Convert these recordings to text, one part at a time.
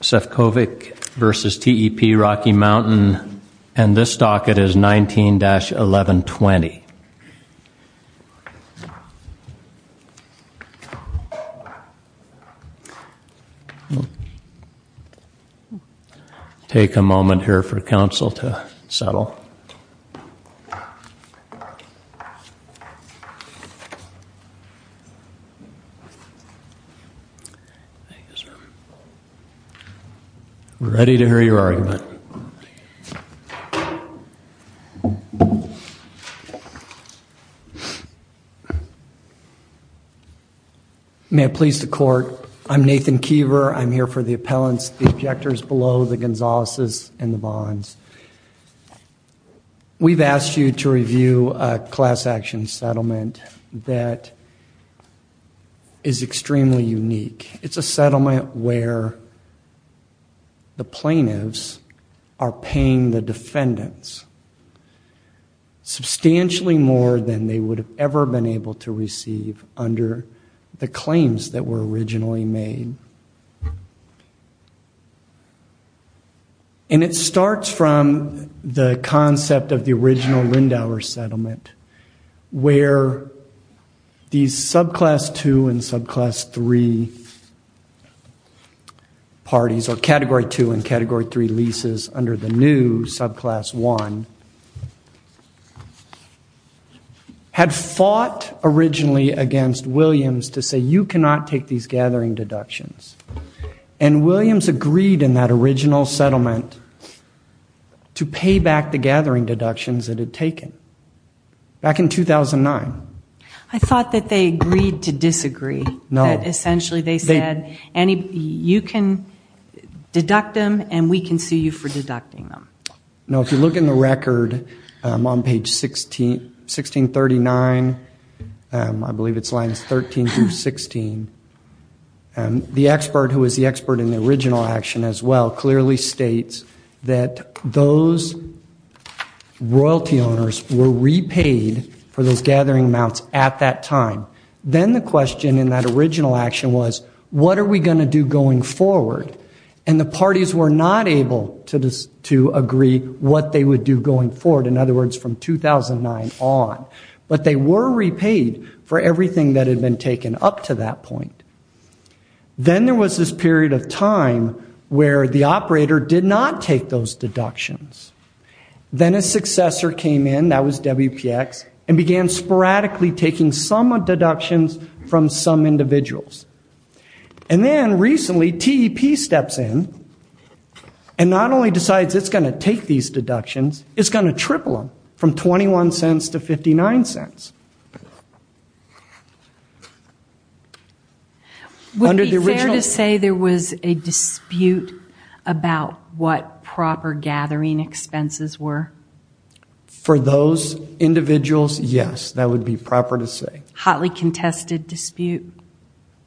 Sefcovic v. TEP Rocky Mountain and this docket is 19-1120. Take a moment here for us. We're ready to hear your argument. May it please the court, I'm Nathan Keever, I'm here for the appellants, the objectors below, the Gonzaleses and the Bonds. We've asked you to review a class action settlement that is extremely unique. It's a settlement where the plaintiffs are paying the defendants substantially more than they would have ever been able to receive under the claims that were originally made. And it starts from the concept of the original Lindauer settlement where these subclass two and subclass three parties or category two and category three leases under the new subclass one had fought originally against Williams to say you cannot take these gathering deductions. And Williams agreed in that original settlement to pay back the gathering deductions that had taken back in 2009. I thought that they agreed to disagree. No. Essentially they said you can deduct them and we can sue you for deducting them. No, if you look in the record on page 1639, I believe it's lines 13 through 16, the expert who is the expert in the original action as well clearly states that those royalty owners were repaid for those gathering amounts at that time. Then the question in that original action was what are we going to do going forward? And the parties were not able to agree what they would do going forward. In other words, from 2009 on. But they were repaid for everything that had been taken up to that point. Then there was this period of time where the operator did not take those deductions. Then a successor came in, that was WPX, and began sporadically taking some deductions from some individuals. And then recently TEP steps in and not only decides it's going to take these deductions, it's going to take those deductions. It's nonsense. Would it be fair to say there was a dispute about what proper gathering expenses were? For those individuals, yes. That would be proper to say. Hotly contested dispute?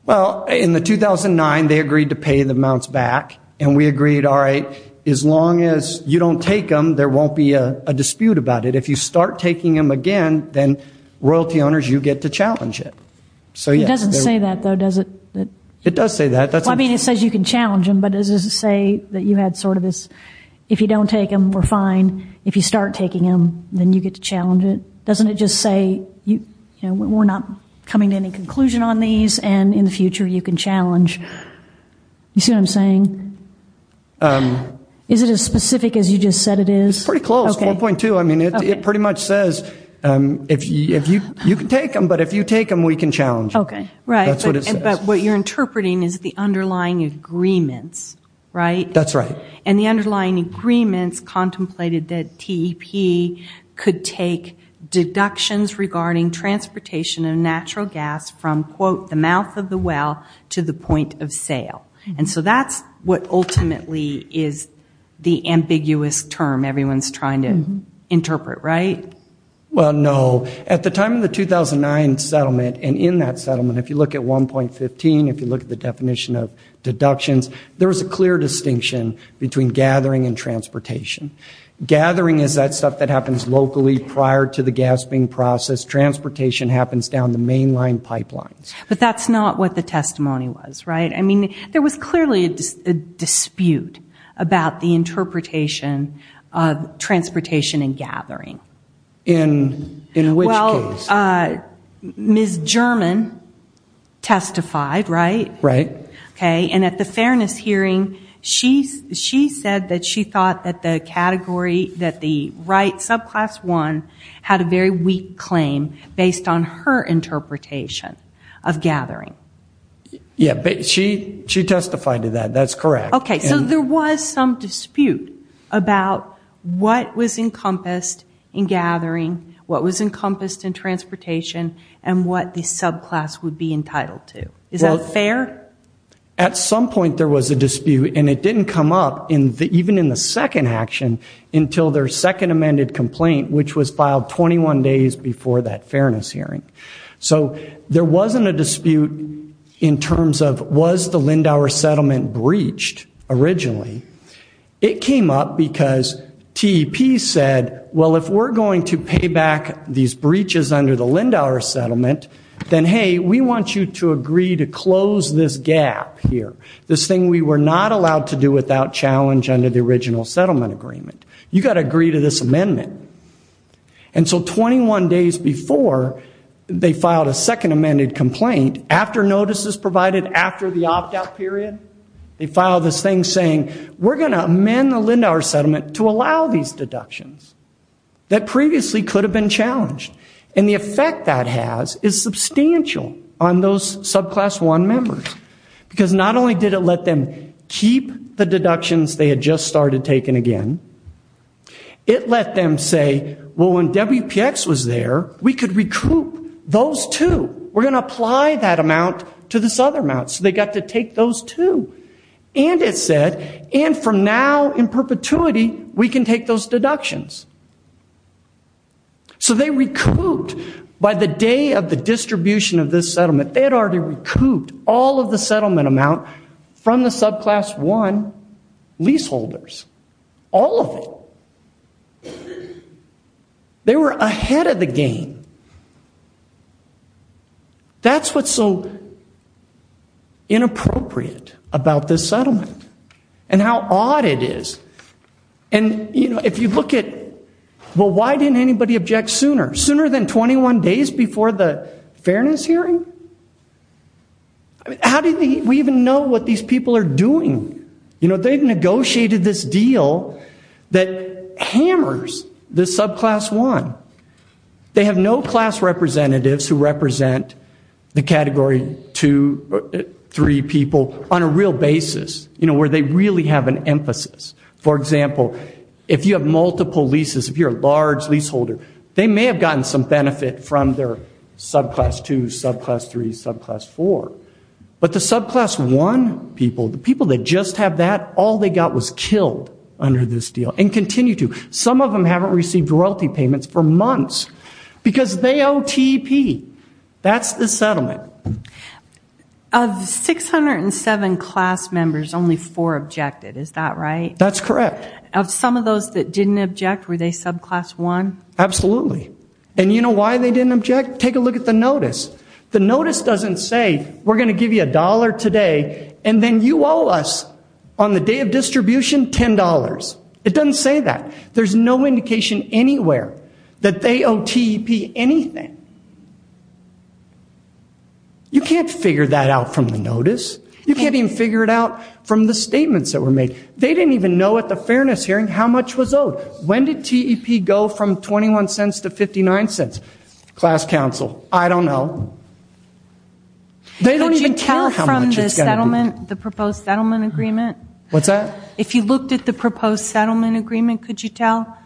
Well, in the 2009, they agreed to pay the amounts back. And we agreed, all right, as long as you don't take them, there won't be a dispute about it. If you start taking them again, then royalty owners, you get to challenge it. It doesn't say that, though, does it? It does say that. I mean, it says you can challenge them, but does it say that you had sort of this, if you don't take them, we're fine. If you start taking them, then you get to challenge it. Doesn't it just say, you know, we're not coming to any conclusion on these, and in the future you can challenge? You see what I'm saying? Is it as specific as you just said it is? It's pretty close, 4.2. I mean, it pretty much says you can take them, but if you take them, we can challenge. Okay. Right. That's what it says. But what you're interpreting is the underlying agreements, right? That's right. And the underlying agreements contemplated that TEP could take deductions regarding transportation of natural gas from, quote, the mouth of the well to the point of sale. And so that's what ultimately is the ambiguous term everyone's trying to interpret, right? Well, no. At the time of the 2009 settlement and in that settlement, if you look at 1.15, if you look at the definition of deductions, there was a clear distinction between gathering and transportation. Gathering is that stuff that happens locally prior to the gasping process. Transportation happens down the mainline pipelines. But that's not what the testimony was, right? I mean, there was clearly a dispute about the interpretation of transportation and gathering. In which case? Well, Ms. German testified, right? Right. Okay. And at the fairness hearing, she said that she thought that the category, that the right, subclass one, had a very weak claim based on her interpretation of gathering. Yeah, but she testified to that. That's correct. Okay. So there was some dispute about what was encompassed in gathering, what was encompassed in transportation, and what the subclass would be entitled to. Is that fair? At some point there was a dispute, and it didn't come up, even in the second action, until their second amended complaint, which was filed 21 days before that fairness hearing. So there wasn't a dispute in terms of was the Lindauer settlement breached originally. It came up because TEP said, well, if we're going to pay back these breaches under the Lindauer settlement, then, hey, we want you to agree to close this gap here, this thing we were not allowed to do without challenge under the original settlement agreement. You've got to agree to this amendment. And so 21 days before they filed a second amended complaint, after notices provided after the opt-out period, they filed this thing saying, we're going to amend the Lindauer settlement to allow these deductions that previously could have been challenged. And the effect that has is substantial on those subclass one members, because not only did it let them keep the deductions they had just started taking again, it let them say, well, when WPX was there, we could recoup those, too. We're going to apply that amount to this other amount. So they got to take those, too. And it said, and from now in perpetuity, we can take those deductions. So they recouped. By the day of the distribution of this settlement, they had already recouped all of the settlement amount from the subclass one leaseholders, all of it. They were ahead of the game. That's what's so inappropriate about this settlement and how odd it is. And, you know, if you look at, well, why didn't anybody object sooner, sooner than 21 days before the fairness hearing? How do we even know what these people are doing? You know, they've negotiated this deal that hammers the subclass one. They have no class representatives who represent the Category 2, 3 people on a real basis, you know, where they really have an emphasis. For example, if you have multiple leases, if you're a large leaseholder, they may have gotten some benefit from their subclass 2, subclass 3, subclass 4. But the subclass one people, the people that just have that, all they got was killed under this deal and continue to. Some of them haven't received royalty payments for months because they owe TEP. That's the settlement. Of 607 class members, only four objected. Is that right? That's correct. Of some of those that didn't object, were they subclass one? Absolutely. And you know why they didn't object? Take a look at the notice. The notice doesn't say, we're going to give you a dollar today, and then you owe us on the day of distribution $10. It doesn't say that. There's no indication anywhere that they owe TEP anything. You can't figure that out from the notice. You can't even figure it out from the statements that were made. They didn't even know at the fairness hearing how much was owed. When did TEP go from $0.21 to $0.59? Class counsel, I don't know. They don't even care how much it's going to be. Could you tell from the settlement, the proposed settlement agreement? What's that? If you looked at the proposed settlement agreement, could you tell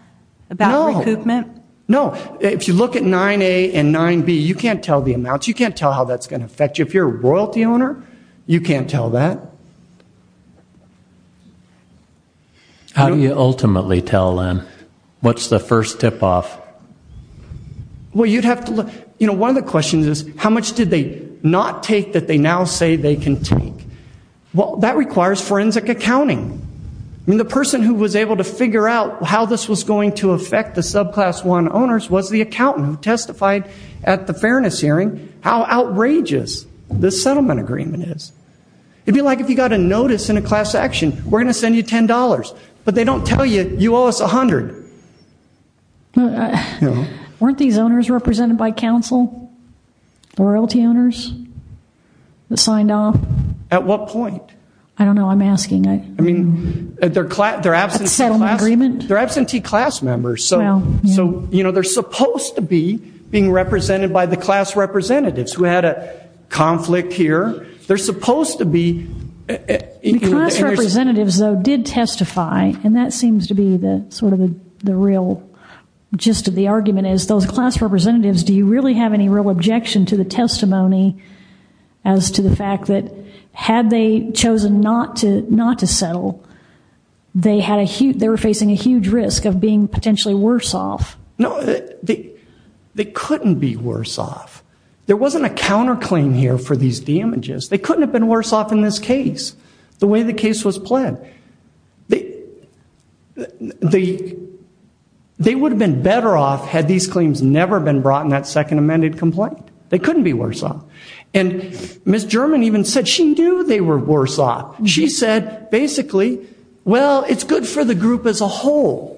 about recoupment? No. If you look at 9A and 9B, you can't tell the amounts. You can't tell how that's going to affect you. If you're a royalty owner, you can't tell that. How do you ultimately tell, then? What's the first tip-off? Well, you'd have to look. One of the questions is, how much did they not take that they now say they can take? That requires forensic accounting. The person who was able to figure out how this was going to affect the subclass one owners was the accountant who testified at the fairness hearing how outrageous this settlement agreement is. It'd be like if you got a notice in a class action, we're going to send you $10, but they don't tell you, you owe us $100. Weren't these owners represented by counsel? The royalty owners that signed off? At what point? I don't know. I'm asking. I mean, they're absentee class members. So, you know, they're supposed to be being represented by the class representatives who had a conflict here. They're supposed to be. The class representatives, though, did testify, and that seems to be sort of the real gist of the argument is, those class representatives, do you really have any real objection to the testimony as to the fact that had they chosen not to settle, they were facing a huge risk of being potentially worse off? No, they couldn't be worse off. There wasn't a counterclaim here for these damages. They couldn't have been worse off in this case, the way the case was pled. They would have been better off had these claims never been brought in that second amended complaint. They couldn't be worse off. And Ms. German even said she knew they were worse off. She said, basically, well, it's good for the group as a whole.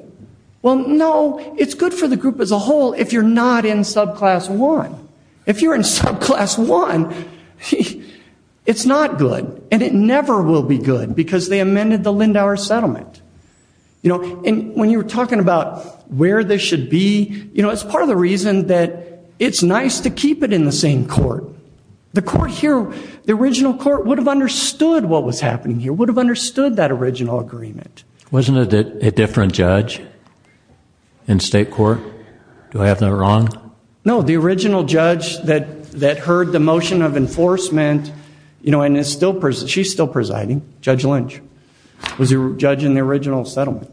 Well, no, it's good for the group as a whole if you're not in subclass one. If you're in subclass one, it's not good, and it never will be good because they amended the Lindauer settlement. And when you were talking about where this should be, it's part of the reason that it's nice to keep it in the same court. The original court would have understood what was happening here, would have understood that original agreement. Wasn't it a different judge in state court? Do I have that wrong? No, the original judge that heard the motion of enforcement, and she's still presiding, Judge Lynch, was the judge in the original settlement.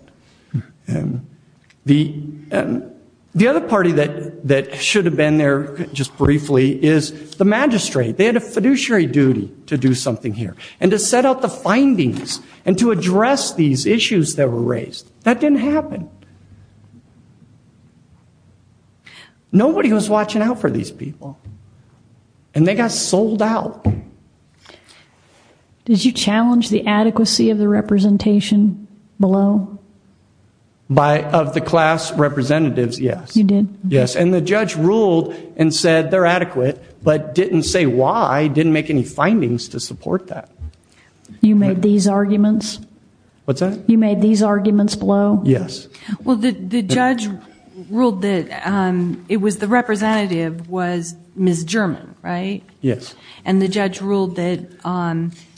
The other party that should have been there just briefly is the magistrate. They had a fiduciary duty to do something here and to set out the findings and to address these issues that were raised. That didn't happen. Nobody was watching out for these people, and they got sold out. Did you challenge the adequacy of the representation below? Of the class representatives, yes. You did? Yes, and the judge ruled and said they're adequate but didn't say why, didn't make any findings to support that. You made these arguments? What's that? You made these arguments below? Yes. Well, the judge ruled that it was the representative was Ms. German, right? Yes. And the judge ruled that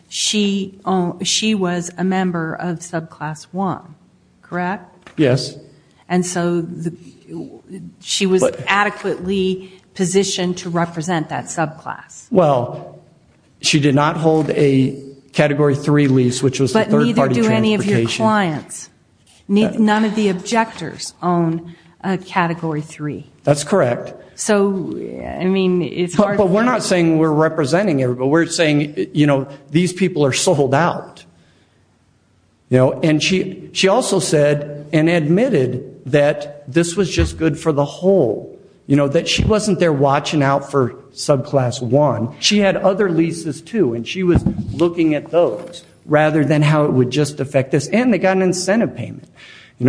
she was a member of subclass one, correct? Yes. And so she was adequately positioned to represent that subclass? Well, she did not hold a Category 3 lease, but neither do any of your clients. None of the objectors own a Category 3. That's correct. But we're not saying we're representing everybody. We're saying these people are sold out. And she also said and admitted that this was just good for the whole, that she wasn't there watching out for subclass one. She had other leases too, and she was looking at those rather than how it would just affect this. And they got an incentive payment.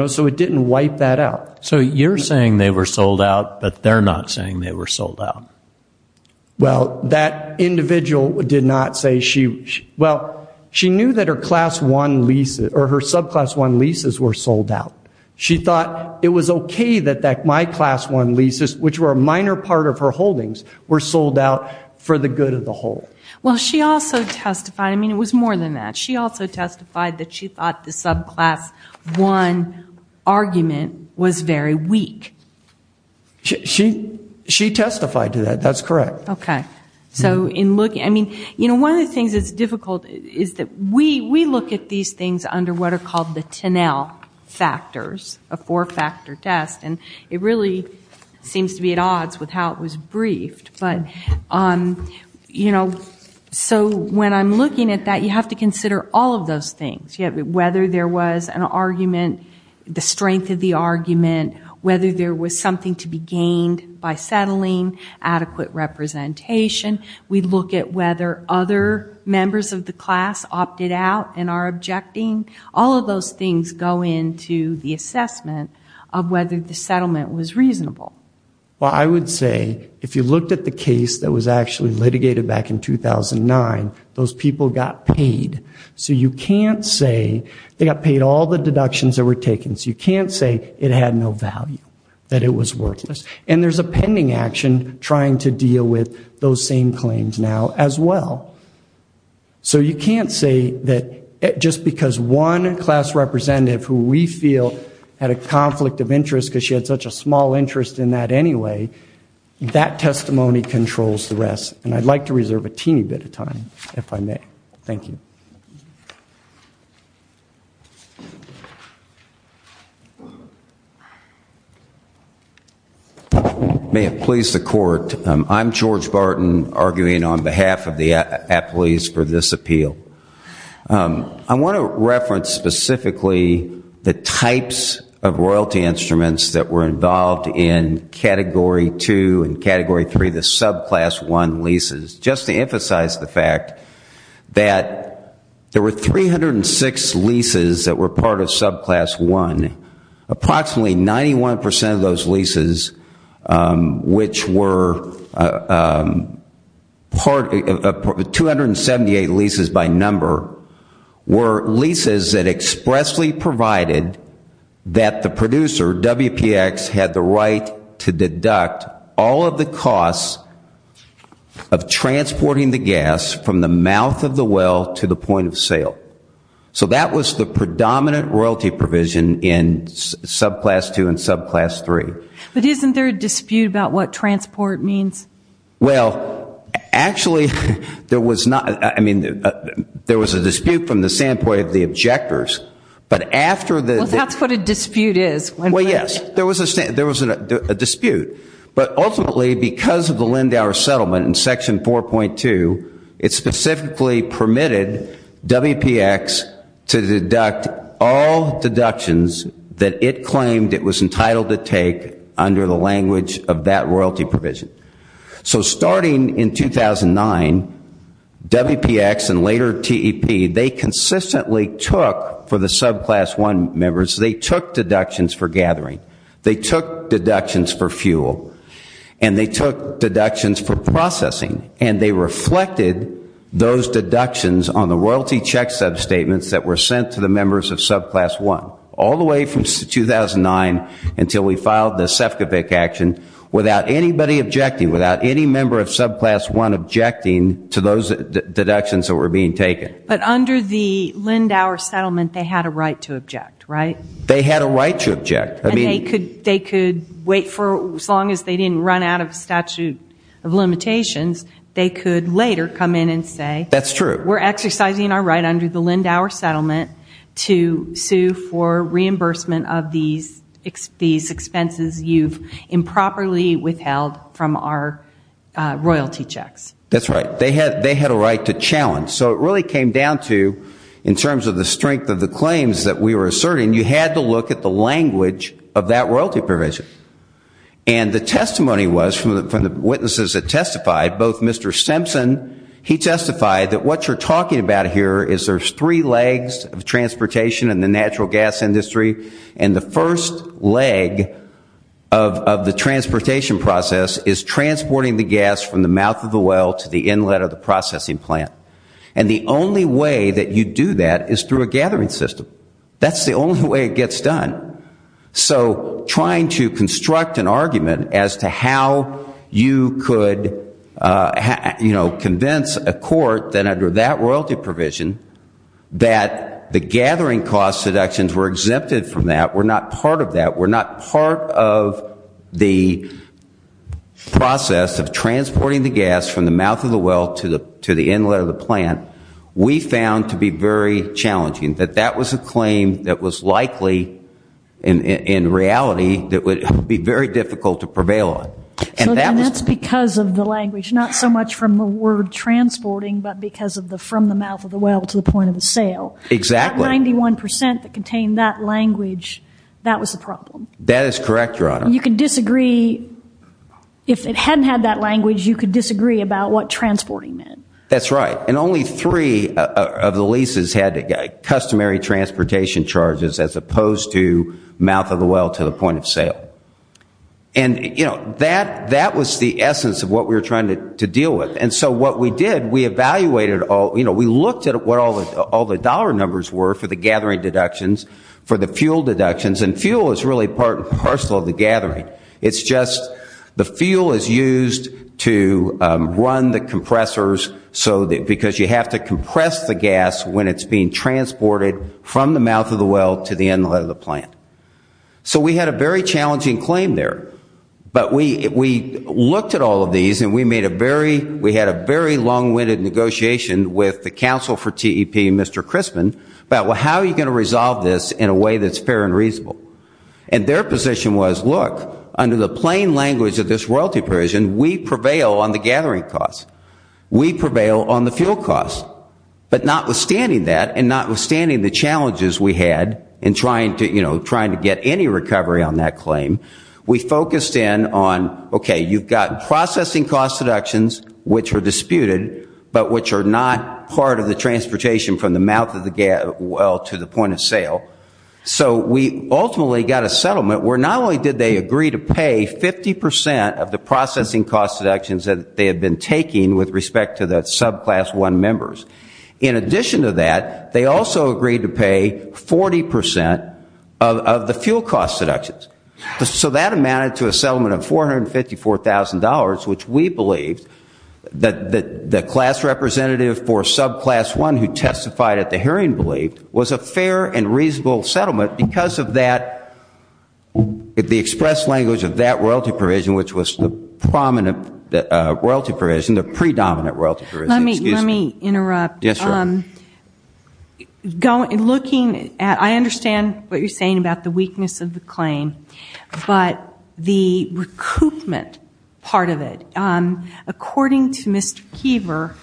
So it didn't wipe that out. So you're saying they were sold out, but they're not saying they were sold out. Well, that individual did not say she was. Well, she knew that her subclass one leases were sold out. She thought it was okay that my class one leases, which were a minor part of her holdings, were sold out for the good of the whole. Well, she also testified. I mean, it was more than that. She also testified that she thought the subclass one argument was very weak. She testified to that. That's correct. Okay. I mean, one of the things that's difficult is that we look at these things under what are called the TINEL factors, a four-factor test, and it really seems to be at odds with how it was briefed. But, you know, so when I'm looking at that, you have to consider all of those things, whether there was an argument, the strength of the argument, whether there was something to be gained by settling, adequate representation. We look at whether other members of the class opted out and are objecting. All of those things go into the assessment of whether the settlement was reasonable. Well, I would say if you looked at the case that was actually litigated back in 2009, those people got paid. So you can't say they got paid all the deductions that were taken. So you can't say it had no value, that it was worthless. And there's a pending action trying to deal with those same claims now as well. So you can't say that just because one class representative who we feel had a conflict of interest because she had such a small interest in that anyway, that testimony controls the rest. And I'd like to reserve a teeny bit of time, if I may. Thank you. May it please the Court. I'm George Barton, arguing on behalf of the appellees for this appeal. I want to reference specifically the types of royalty instruments that were involved in Category 2 and Category 3, the subclass 1 leases. Just to emphasize the fact that there were 306 leases that were part of subclass 1. Approximately 91% of those leases, which were 278 leases by number, were leases that expressly provided that the producer, WPX, had the right to deduct all of the costs of transporting the gas from the mouth of the well to the point of sale. So that was the predominant royalty provision in subclass 2 and subclass 3. But isn't there a dispute about what transport means? Well, actually, there was not. I mean, there was a dispute from the standpoint of the objectors. Well, that's what a dispute is. Well, yes, there was a dispute. But ultimately, because of the Lindauer settlement in Section 4.2, it specifically permitted WPX to deduct all deductions that it claimed it was entitled to take under the language of that royalty provision. So starting in 2009, WPX and later TEP, they consistently took, for the subclass 1 members, they took deductions for gathering. They took deductions for fuel. And they took deductions for processing. And they reflected those deductions on the royalty check substatements that were sent to the members of subclass 1 all the way from 2009 until we filed the Sefcovic action without anybody objecting, without any member of subclass 1 objecting to those deductions that were being taken. But under the Lindauer settlement, they had a right to object, right? They had a right to object. And they could wait for as long as they didn't run out of statute of limitations, they could later come in and say we're exercising our right under the Lindauer settlement to sue for reimbursement of these expenses you've improperly withheld from our royalty checks. That's right. They had a right to challenge. So it really came down to, in terms of the strength of the claims that we were asserting, you had to look at the language of that royalty provision. And the testimony was from the witnesses that testified, both Mr. Simpson, he testified that what you're talking about here is there's three legs of transportation in the natural gas industry, and the first leg of the transportation process is transporting the gas from the mouth of the well to the inlet of the processing plant. And the only way that you do that is through a gathering system. That's the only way it gets done. So trying to construct an argument as to how you could convince a court that under that royalty provision that the gathering cost deductions were exempted from that, were not part of that, were not part of the process of transporting the gas from the mouth of the well to the inlet of the plant, we found to be very challenging. That that was a claim that was likely, in reality, that would be very difficult to prevail on. So that's because of the language, not so much from the word transporting, but because of the from the mouth of the well to the point of the sale. Exactly. That 91% that contained that language, that was the problem. That is correct, Your Honor. You can disagree, if it hadn't had that language, you could disagree about what transporting meant. That's right. And only three of the leases had customary transportation charges as opposed to mouth of the well to the point of sale. And, you know, that was the essence of what we were trying to deal with. And so what we did, we evaluated all, you know, we looked at what all the dollar numbers were for the gathering deductions, for the fuel deductions, and fuel is really part and parcel of the gathering. It's just the fuel is used to run the compressors so that because you have to compress the gas when it's being transported from the mouth of the well to the inlet of the plant. So we had a very challenging claim there. But we looked at all of these and we made a very, we had a very long-winded negotiation with the counsel for TEP, Mr. Crispin, about how are you going to resolve this in a way that's fair and reasonable. And their position was, look, under the plain language of this royalty provision, we prevail on the gathering cost. We prevail on the fuel cost. But notwithstanding that and notwithstanding the challenges we had in trying to, you know, trying to get any recovery on that claim, we focused in on, okay, you've got processing cost deductions, which are disputed, but which are not part of the transportation from the mouth of the well to the point of sale. So we ultimately got a settlement where not only did they agree to pay 50% of the processing cost deductions that they had been taking with respect to the subclass one members. In addition to that, they also agreed to pay 40% of the fuel cost deductions. So that amounted to a settlement of $454,000, which we believed that the class representative for subclass one who testified at the hearing believed was a fair and reasonable settlement because of that, the express language of that royalty provision, which was the prominent royalty provision, the predominant royalty provision. Let me interrupt. Yes, sir. Looking at, I understand what you're saying about the weakness of the claim, but the recoupment part of it, according to Mr. Kiever,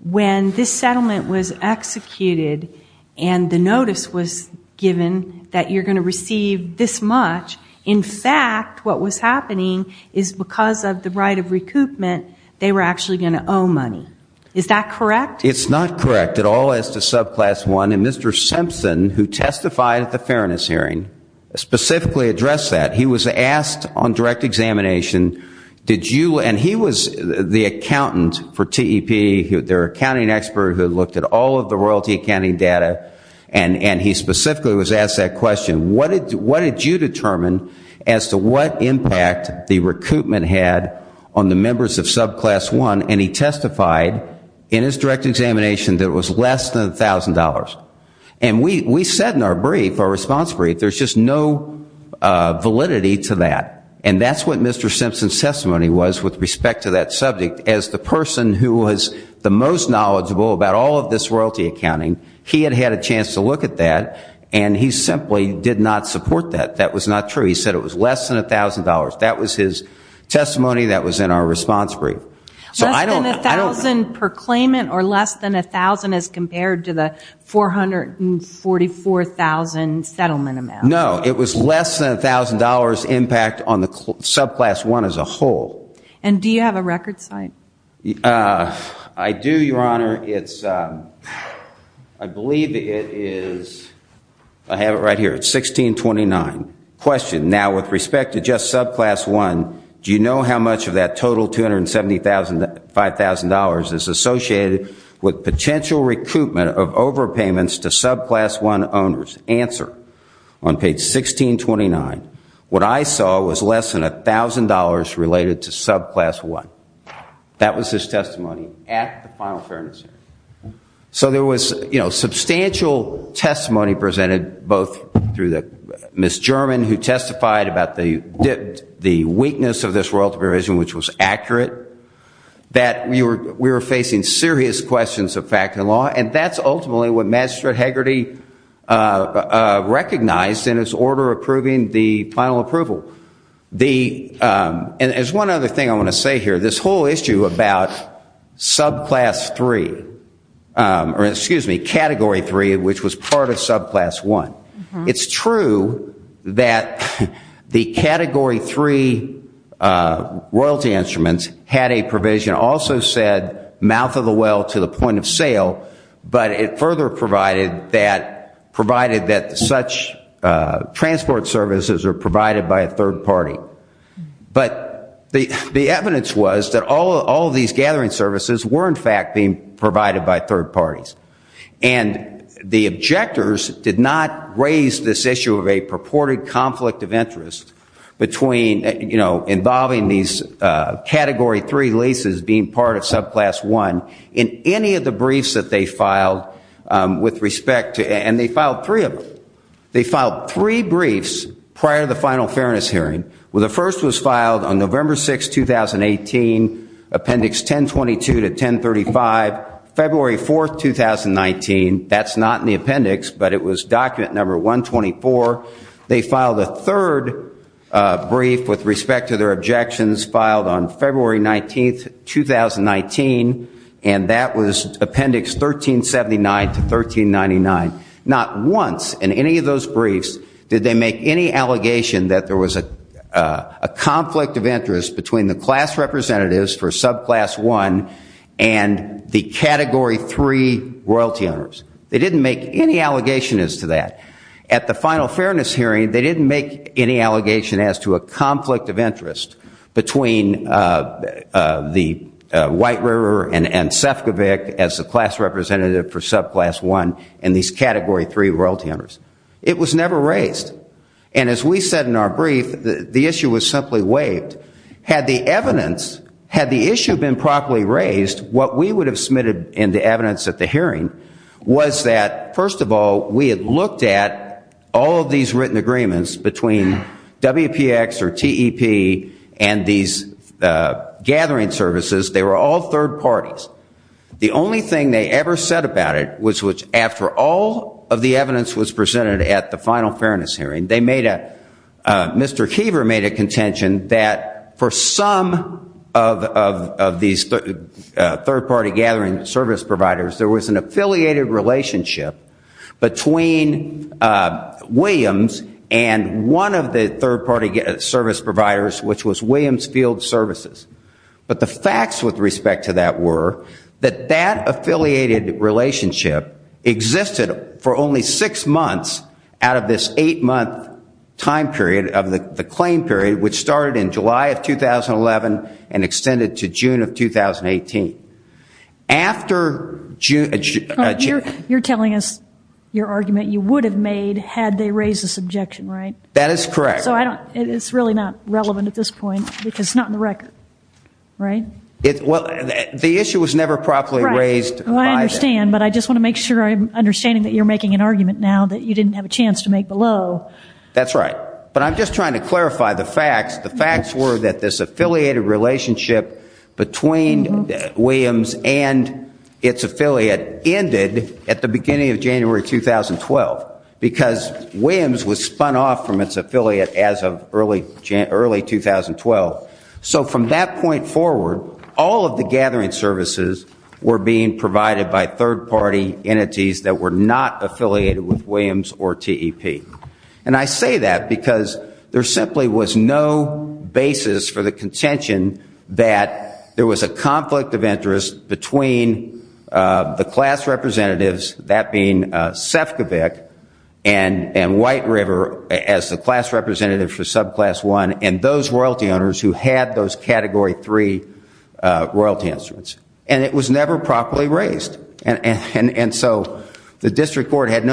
when this settlement was executed and the notice was given that you're going to receive this much, in fact what was happening is because of the right of recoupment, they were actually going to owe money. Is that correct? It's not correct at all as to subclass one. And Mr. Simpson, who testified at the fairness hearing, specifically addressed that. He was asked on direct examination, and he was the accountant for TEP, their accounting expert who looked at all of the royalty accounting data, and he specifically was asked that question. What did you determine as to what impact the recoupment had on the members of subclass one? And he testified in his direct examination that it was less than $1,000. And we said in our brief, our response brief, there's just no validity to that. And that's what Mr. Simpson's testimony was with respect to that subject. As the person who was the most knowledgeable about all of this royalty accounting, he had had a chance to look at that, and he simply did not support that. That was not true. He said it was less than $1,000. That was his testimony that was in our response brief. Less than $1,000 per claimant or less than $1,000 as compared to the $444,000 settlement amount? No, it was less than $1,000 impact on the subclass one as a whole. And do you have a record site? I do, Your Honor. I believe it is, I have it right here, it's 1629. Question, now with respect to just subclass one, do you know how much of that total $275,000 is associated with potential recoupment of overpayments to subclass one owners? Answer, on page 1629, what I saw was less than $1,000 related to subclass one. That was his testimony at the final fairness hearing. So there was substantial testimony presented both through Ms. German, who testified about the weakness of this royalty provision, which was accurate, that we were facing serious questions of fact and law, and that's ultimately what Magistrate Hegarty recognized in his order approving the final approval. There's one other thing I want to say here. This whole issue about category three, which was part of subclass one, it's true that the category three royalty instruments had a provision also said mouth of the well to the point of sale, but it further provided that such transport services are provided by a third party. But the evidence was that all of these gathering services were in fact being provided by third parties. And the objectors did not raise this issue of a purported conflict of interest involving these category three leases being part of subclass one in any of the briefs that they filed with respect to it. And they filed three of them. They filed three briefs prior to the final fairness hearing. The first was filed on November 6, 2018, appendix 1022 to 1035, February 4, 2019. That's not in the appendix, but it was document number 124. They filed a third brief with respect to their objections filed on February 19, 2019, and that was appendix 1379 to 1399. Not once in any of those briefs did they make any allegation that there was a conflict of interest between the class representatives for subclass one and the category three royalty owners. They didn't make any allegation as to that. At the final fairness hearing, they didn't make any allegation as to a conflict of interest between the White River and Sefcovic as the class representative for subclass one and these category three royalty owners. It was never raised. And as we said in our brief, the issue was simply waived. Had the evidence, had the issue been properly raised, what we would have submitted in the evidence at the hearing was that, first of all, we had looked at all of these written agreements between WPX or TEP and these gathering services. They were all third parties. The only thing they ever said about it was after all of the evidence was presented at the final fairness hearing, Mr. Keever made a contention that for some of these third party gathering service providers, there was an affiliated relationship between Williams and one of the third party service providers, which was Williams Field Services. But the facts with respect to that were that that affiliated relationship existed for only six months out of this eight-month time period of the claim period, which started in July of 2011 and extended to June of 2018. After June... You're telling us your argument you would have made had they raised this objection, right? That is correct. So it's really not relevant at this point because it's not in the record, right? Well, the issue was never properly raised. I understand, but I just want to make sure I'm understanding that you're making an argument now that you didn't have a chance to make below. But I'm just trying to clarify the facts. The facts were that this affiliated relationship between Williams and its affiliate ended at the beginning of January 2012 because Williams was spun off from its affiliate as of early 2012. So from that point forward, all of the gathering services were being provided by third party entities that were not affiliated with Williams or TEP. And I say that because there simply was no basis for the contention that there was a conflict of interest between the class representatives, that being Sefcovic and White River as the class representatives for subclass one and those royalty owners who had those category three royalty instruments. And it was never properly raised. And so the district court had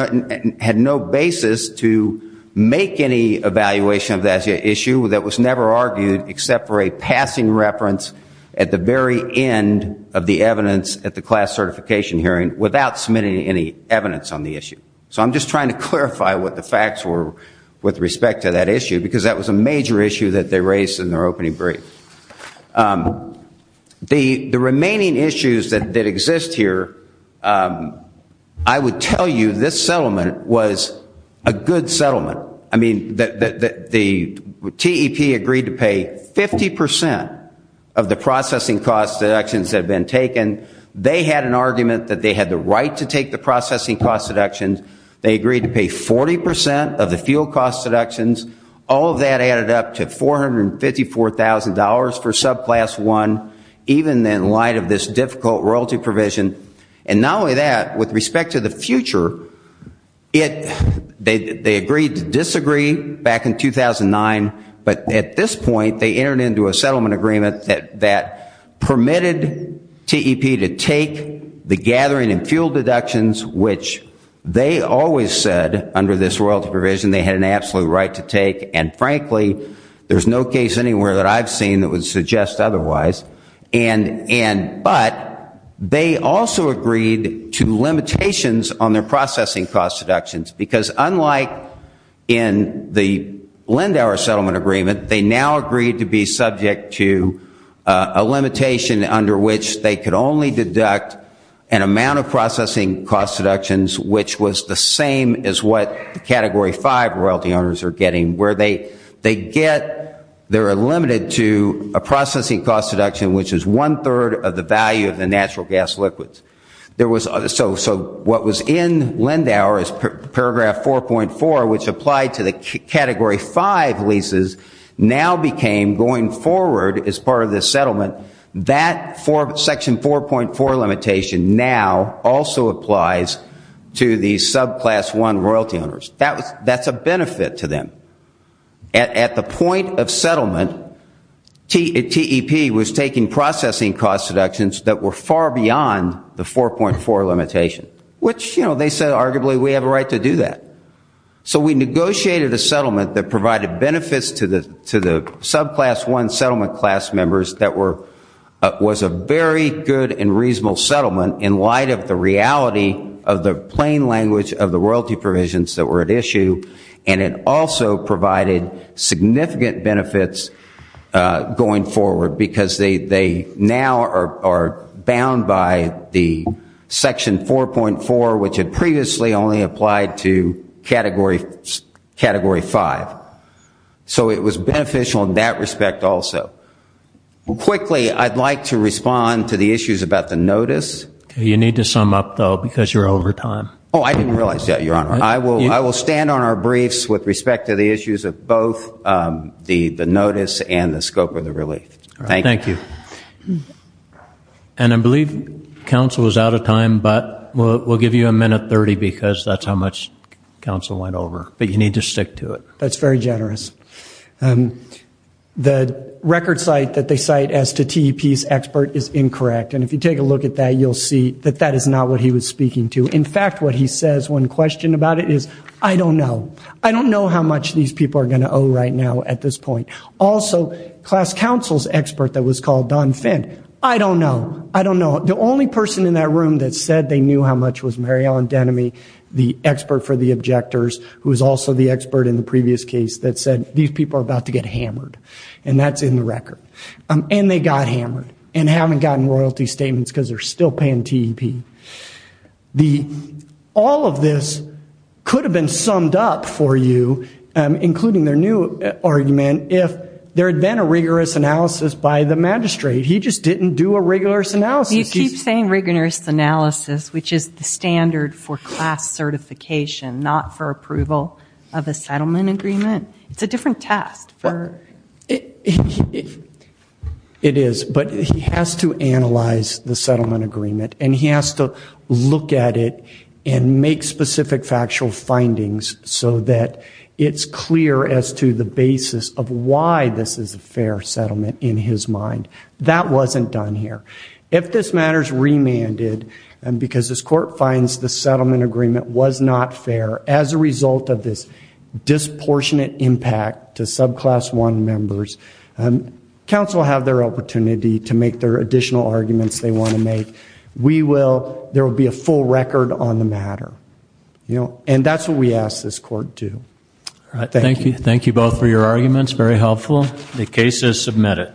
no basis to make any evaluation of that issue that was never argued except for a passing reference at the very end of the evidence at the class certification hearing without submitting any evidence on the issue. So I'm just trying to clarify what the facts were with respect to that issue because that was a major issue that they raised in their opening brief. The remaining issues that exist here, I would tell you this settlement was a good settlement. I mean, the TEP agreed to pay 50 percent of the processing cost deductions that had been taken. They had an argument that they had the right to take the processing cost deductions. They agreed to pay 40 percent of the fuel cost deductions. All of that added up to $454,000 for subclass one, even in light of this difficult royalty provision. And not only that, with respect to the future, they agreed to disagree back in 2009. But at this point, they entered into a settlement agreement that permitted TEP to take the gathering and fuel deductions, which they always said under this royalty provision they had an absolute right to take. And frankly, there's no case anywhere that I've seen that would suggest otherwise. But they also agreed to limitations on their processing cost deductions because unlike in the Lindauer settlement agreement, they now agreed to be subject to a limitation under which they could only deduct an amount of processing cost deductions, which was the same as what the Category 5 royalty owners are getting, where they get they're limited to a processing cost deduction, which is one-third of the value of the natural gas liquids. So what was in Lindauer is paragraph 4.4, which applied to the Category 5 leases, now became going forward as part of this settlement, that section 4.4 limitation now also applies to the subclass one royalty owners. That's a benefit to them. At the point of settlement, TEP was taking processing cost deductions that were far beyond the 4.4 limitation, which they said arguably we have a right to do that. So we negotiated a settlement that provided benefits to the subclass one settlement class members that was a very good and reasonable settlement in light of the reality of the plain language of the royalty provisions that were at issue, and it also provided significant benefits going forward because they now are bound by the section 4.4, which had previously only applied to Category 5. So it was beneficial in that respect also. Quickly, I'd like to respond to the issues about the notice. You need to sum up, though, because you're over time. Oh, I didn't realize that, Your Honor. I will stand on our briefs with respect to the issues of both the notice and the scope of the relief. Thank you. Thank you. And I believe counsel is out of time, but we'll give you a minute 30 because that's how much counsel went over. But you need to stick to it. That's very generous. The record cite that they cite as to TEP's expert is incorrect, and if you take a look at that, you'll see that that is not what he was speaking to. In fact, what he says when questioned about it is, I don't know. I don't know how much these people are going to owe right now at this point. Also, class counsel's expert that was called Don Finn, I don't know. I don't know. The only person in that room that said they knew how much was Mary Ellen Denomy, the expert for the objectors, who was also the expert in the previous case that said these people are about to get hammered, and that's in the record. And they got hammered and haven't gotten royalty statements because they're still paying TEP. All of this could have been summed up for you, including their new argument, if there had been a rigorous analysis by the magistrate. He just didn't do a rigorous analysis. He keeps saying rigorous analysis, which is the standard for class certification, not for approval of a settlement agreement. It's a different test. It is, but he has to analyze the settlement agreement, and he has to look at it and make specific factual findings so that it's clear as to the basis of why this is a fair settlement in his mind. That wasn't done here. If this matter is remanded because this court finds the settlement agreement was not fair as a result of this disproportionate impact to subclass one members, counsel will have their opportunity to make their additional arguments they want to make. We will. There will be a full record on the matter. And that's what we ask this court to. Thank you. Thank you both for your arguments. Very helpful. The case is submitted.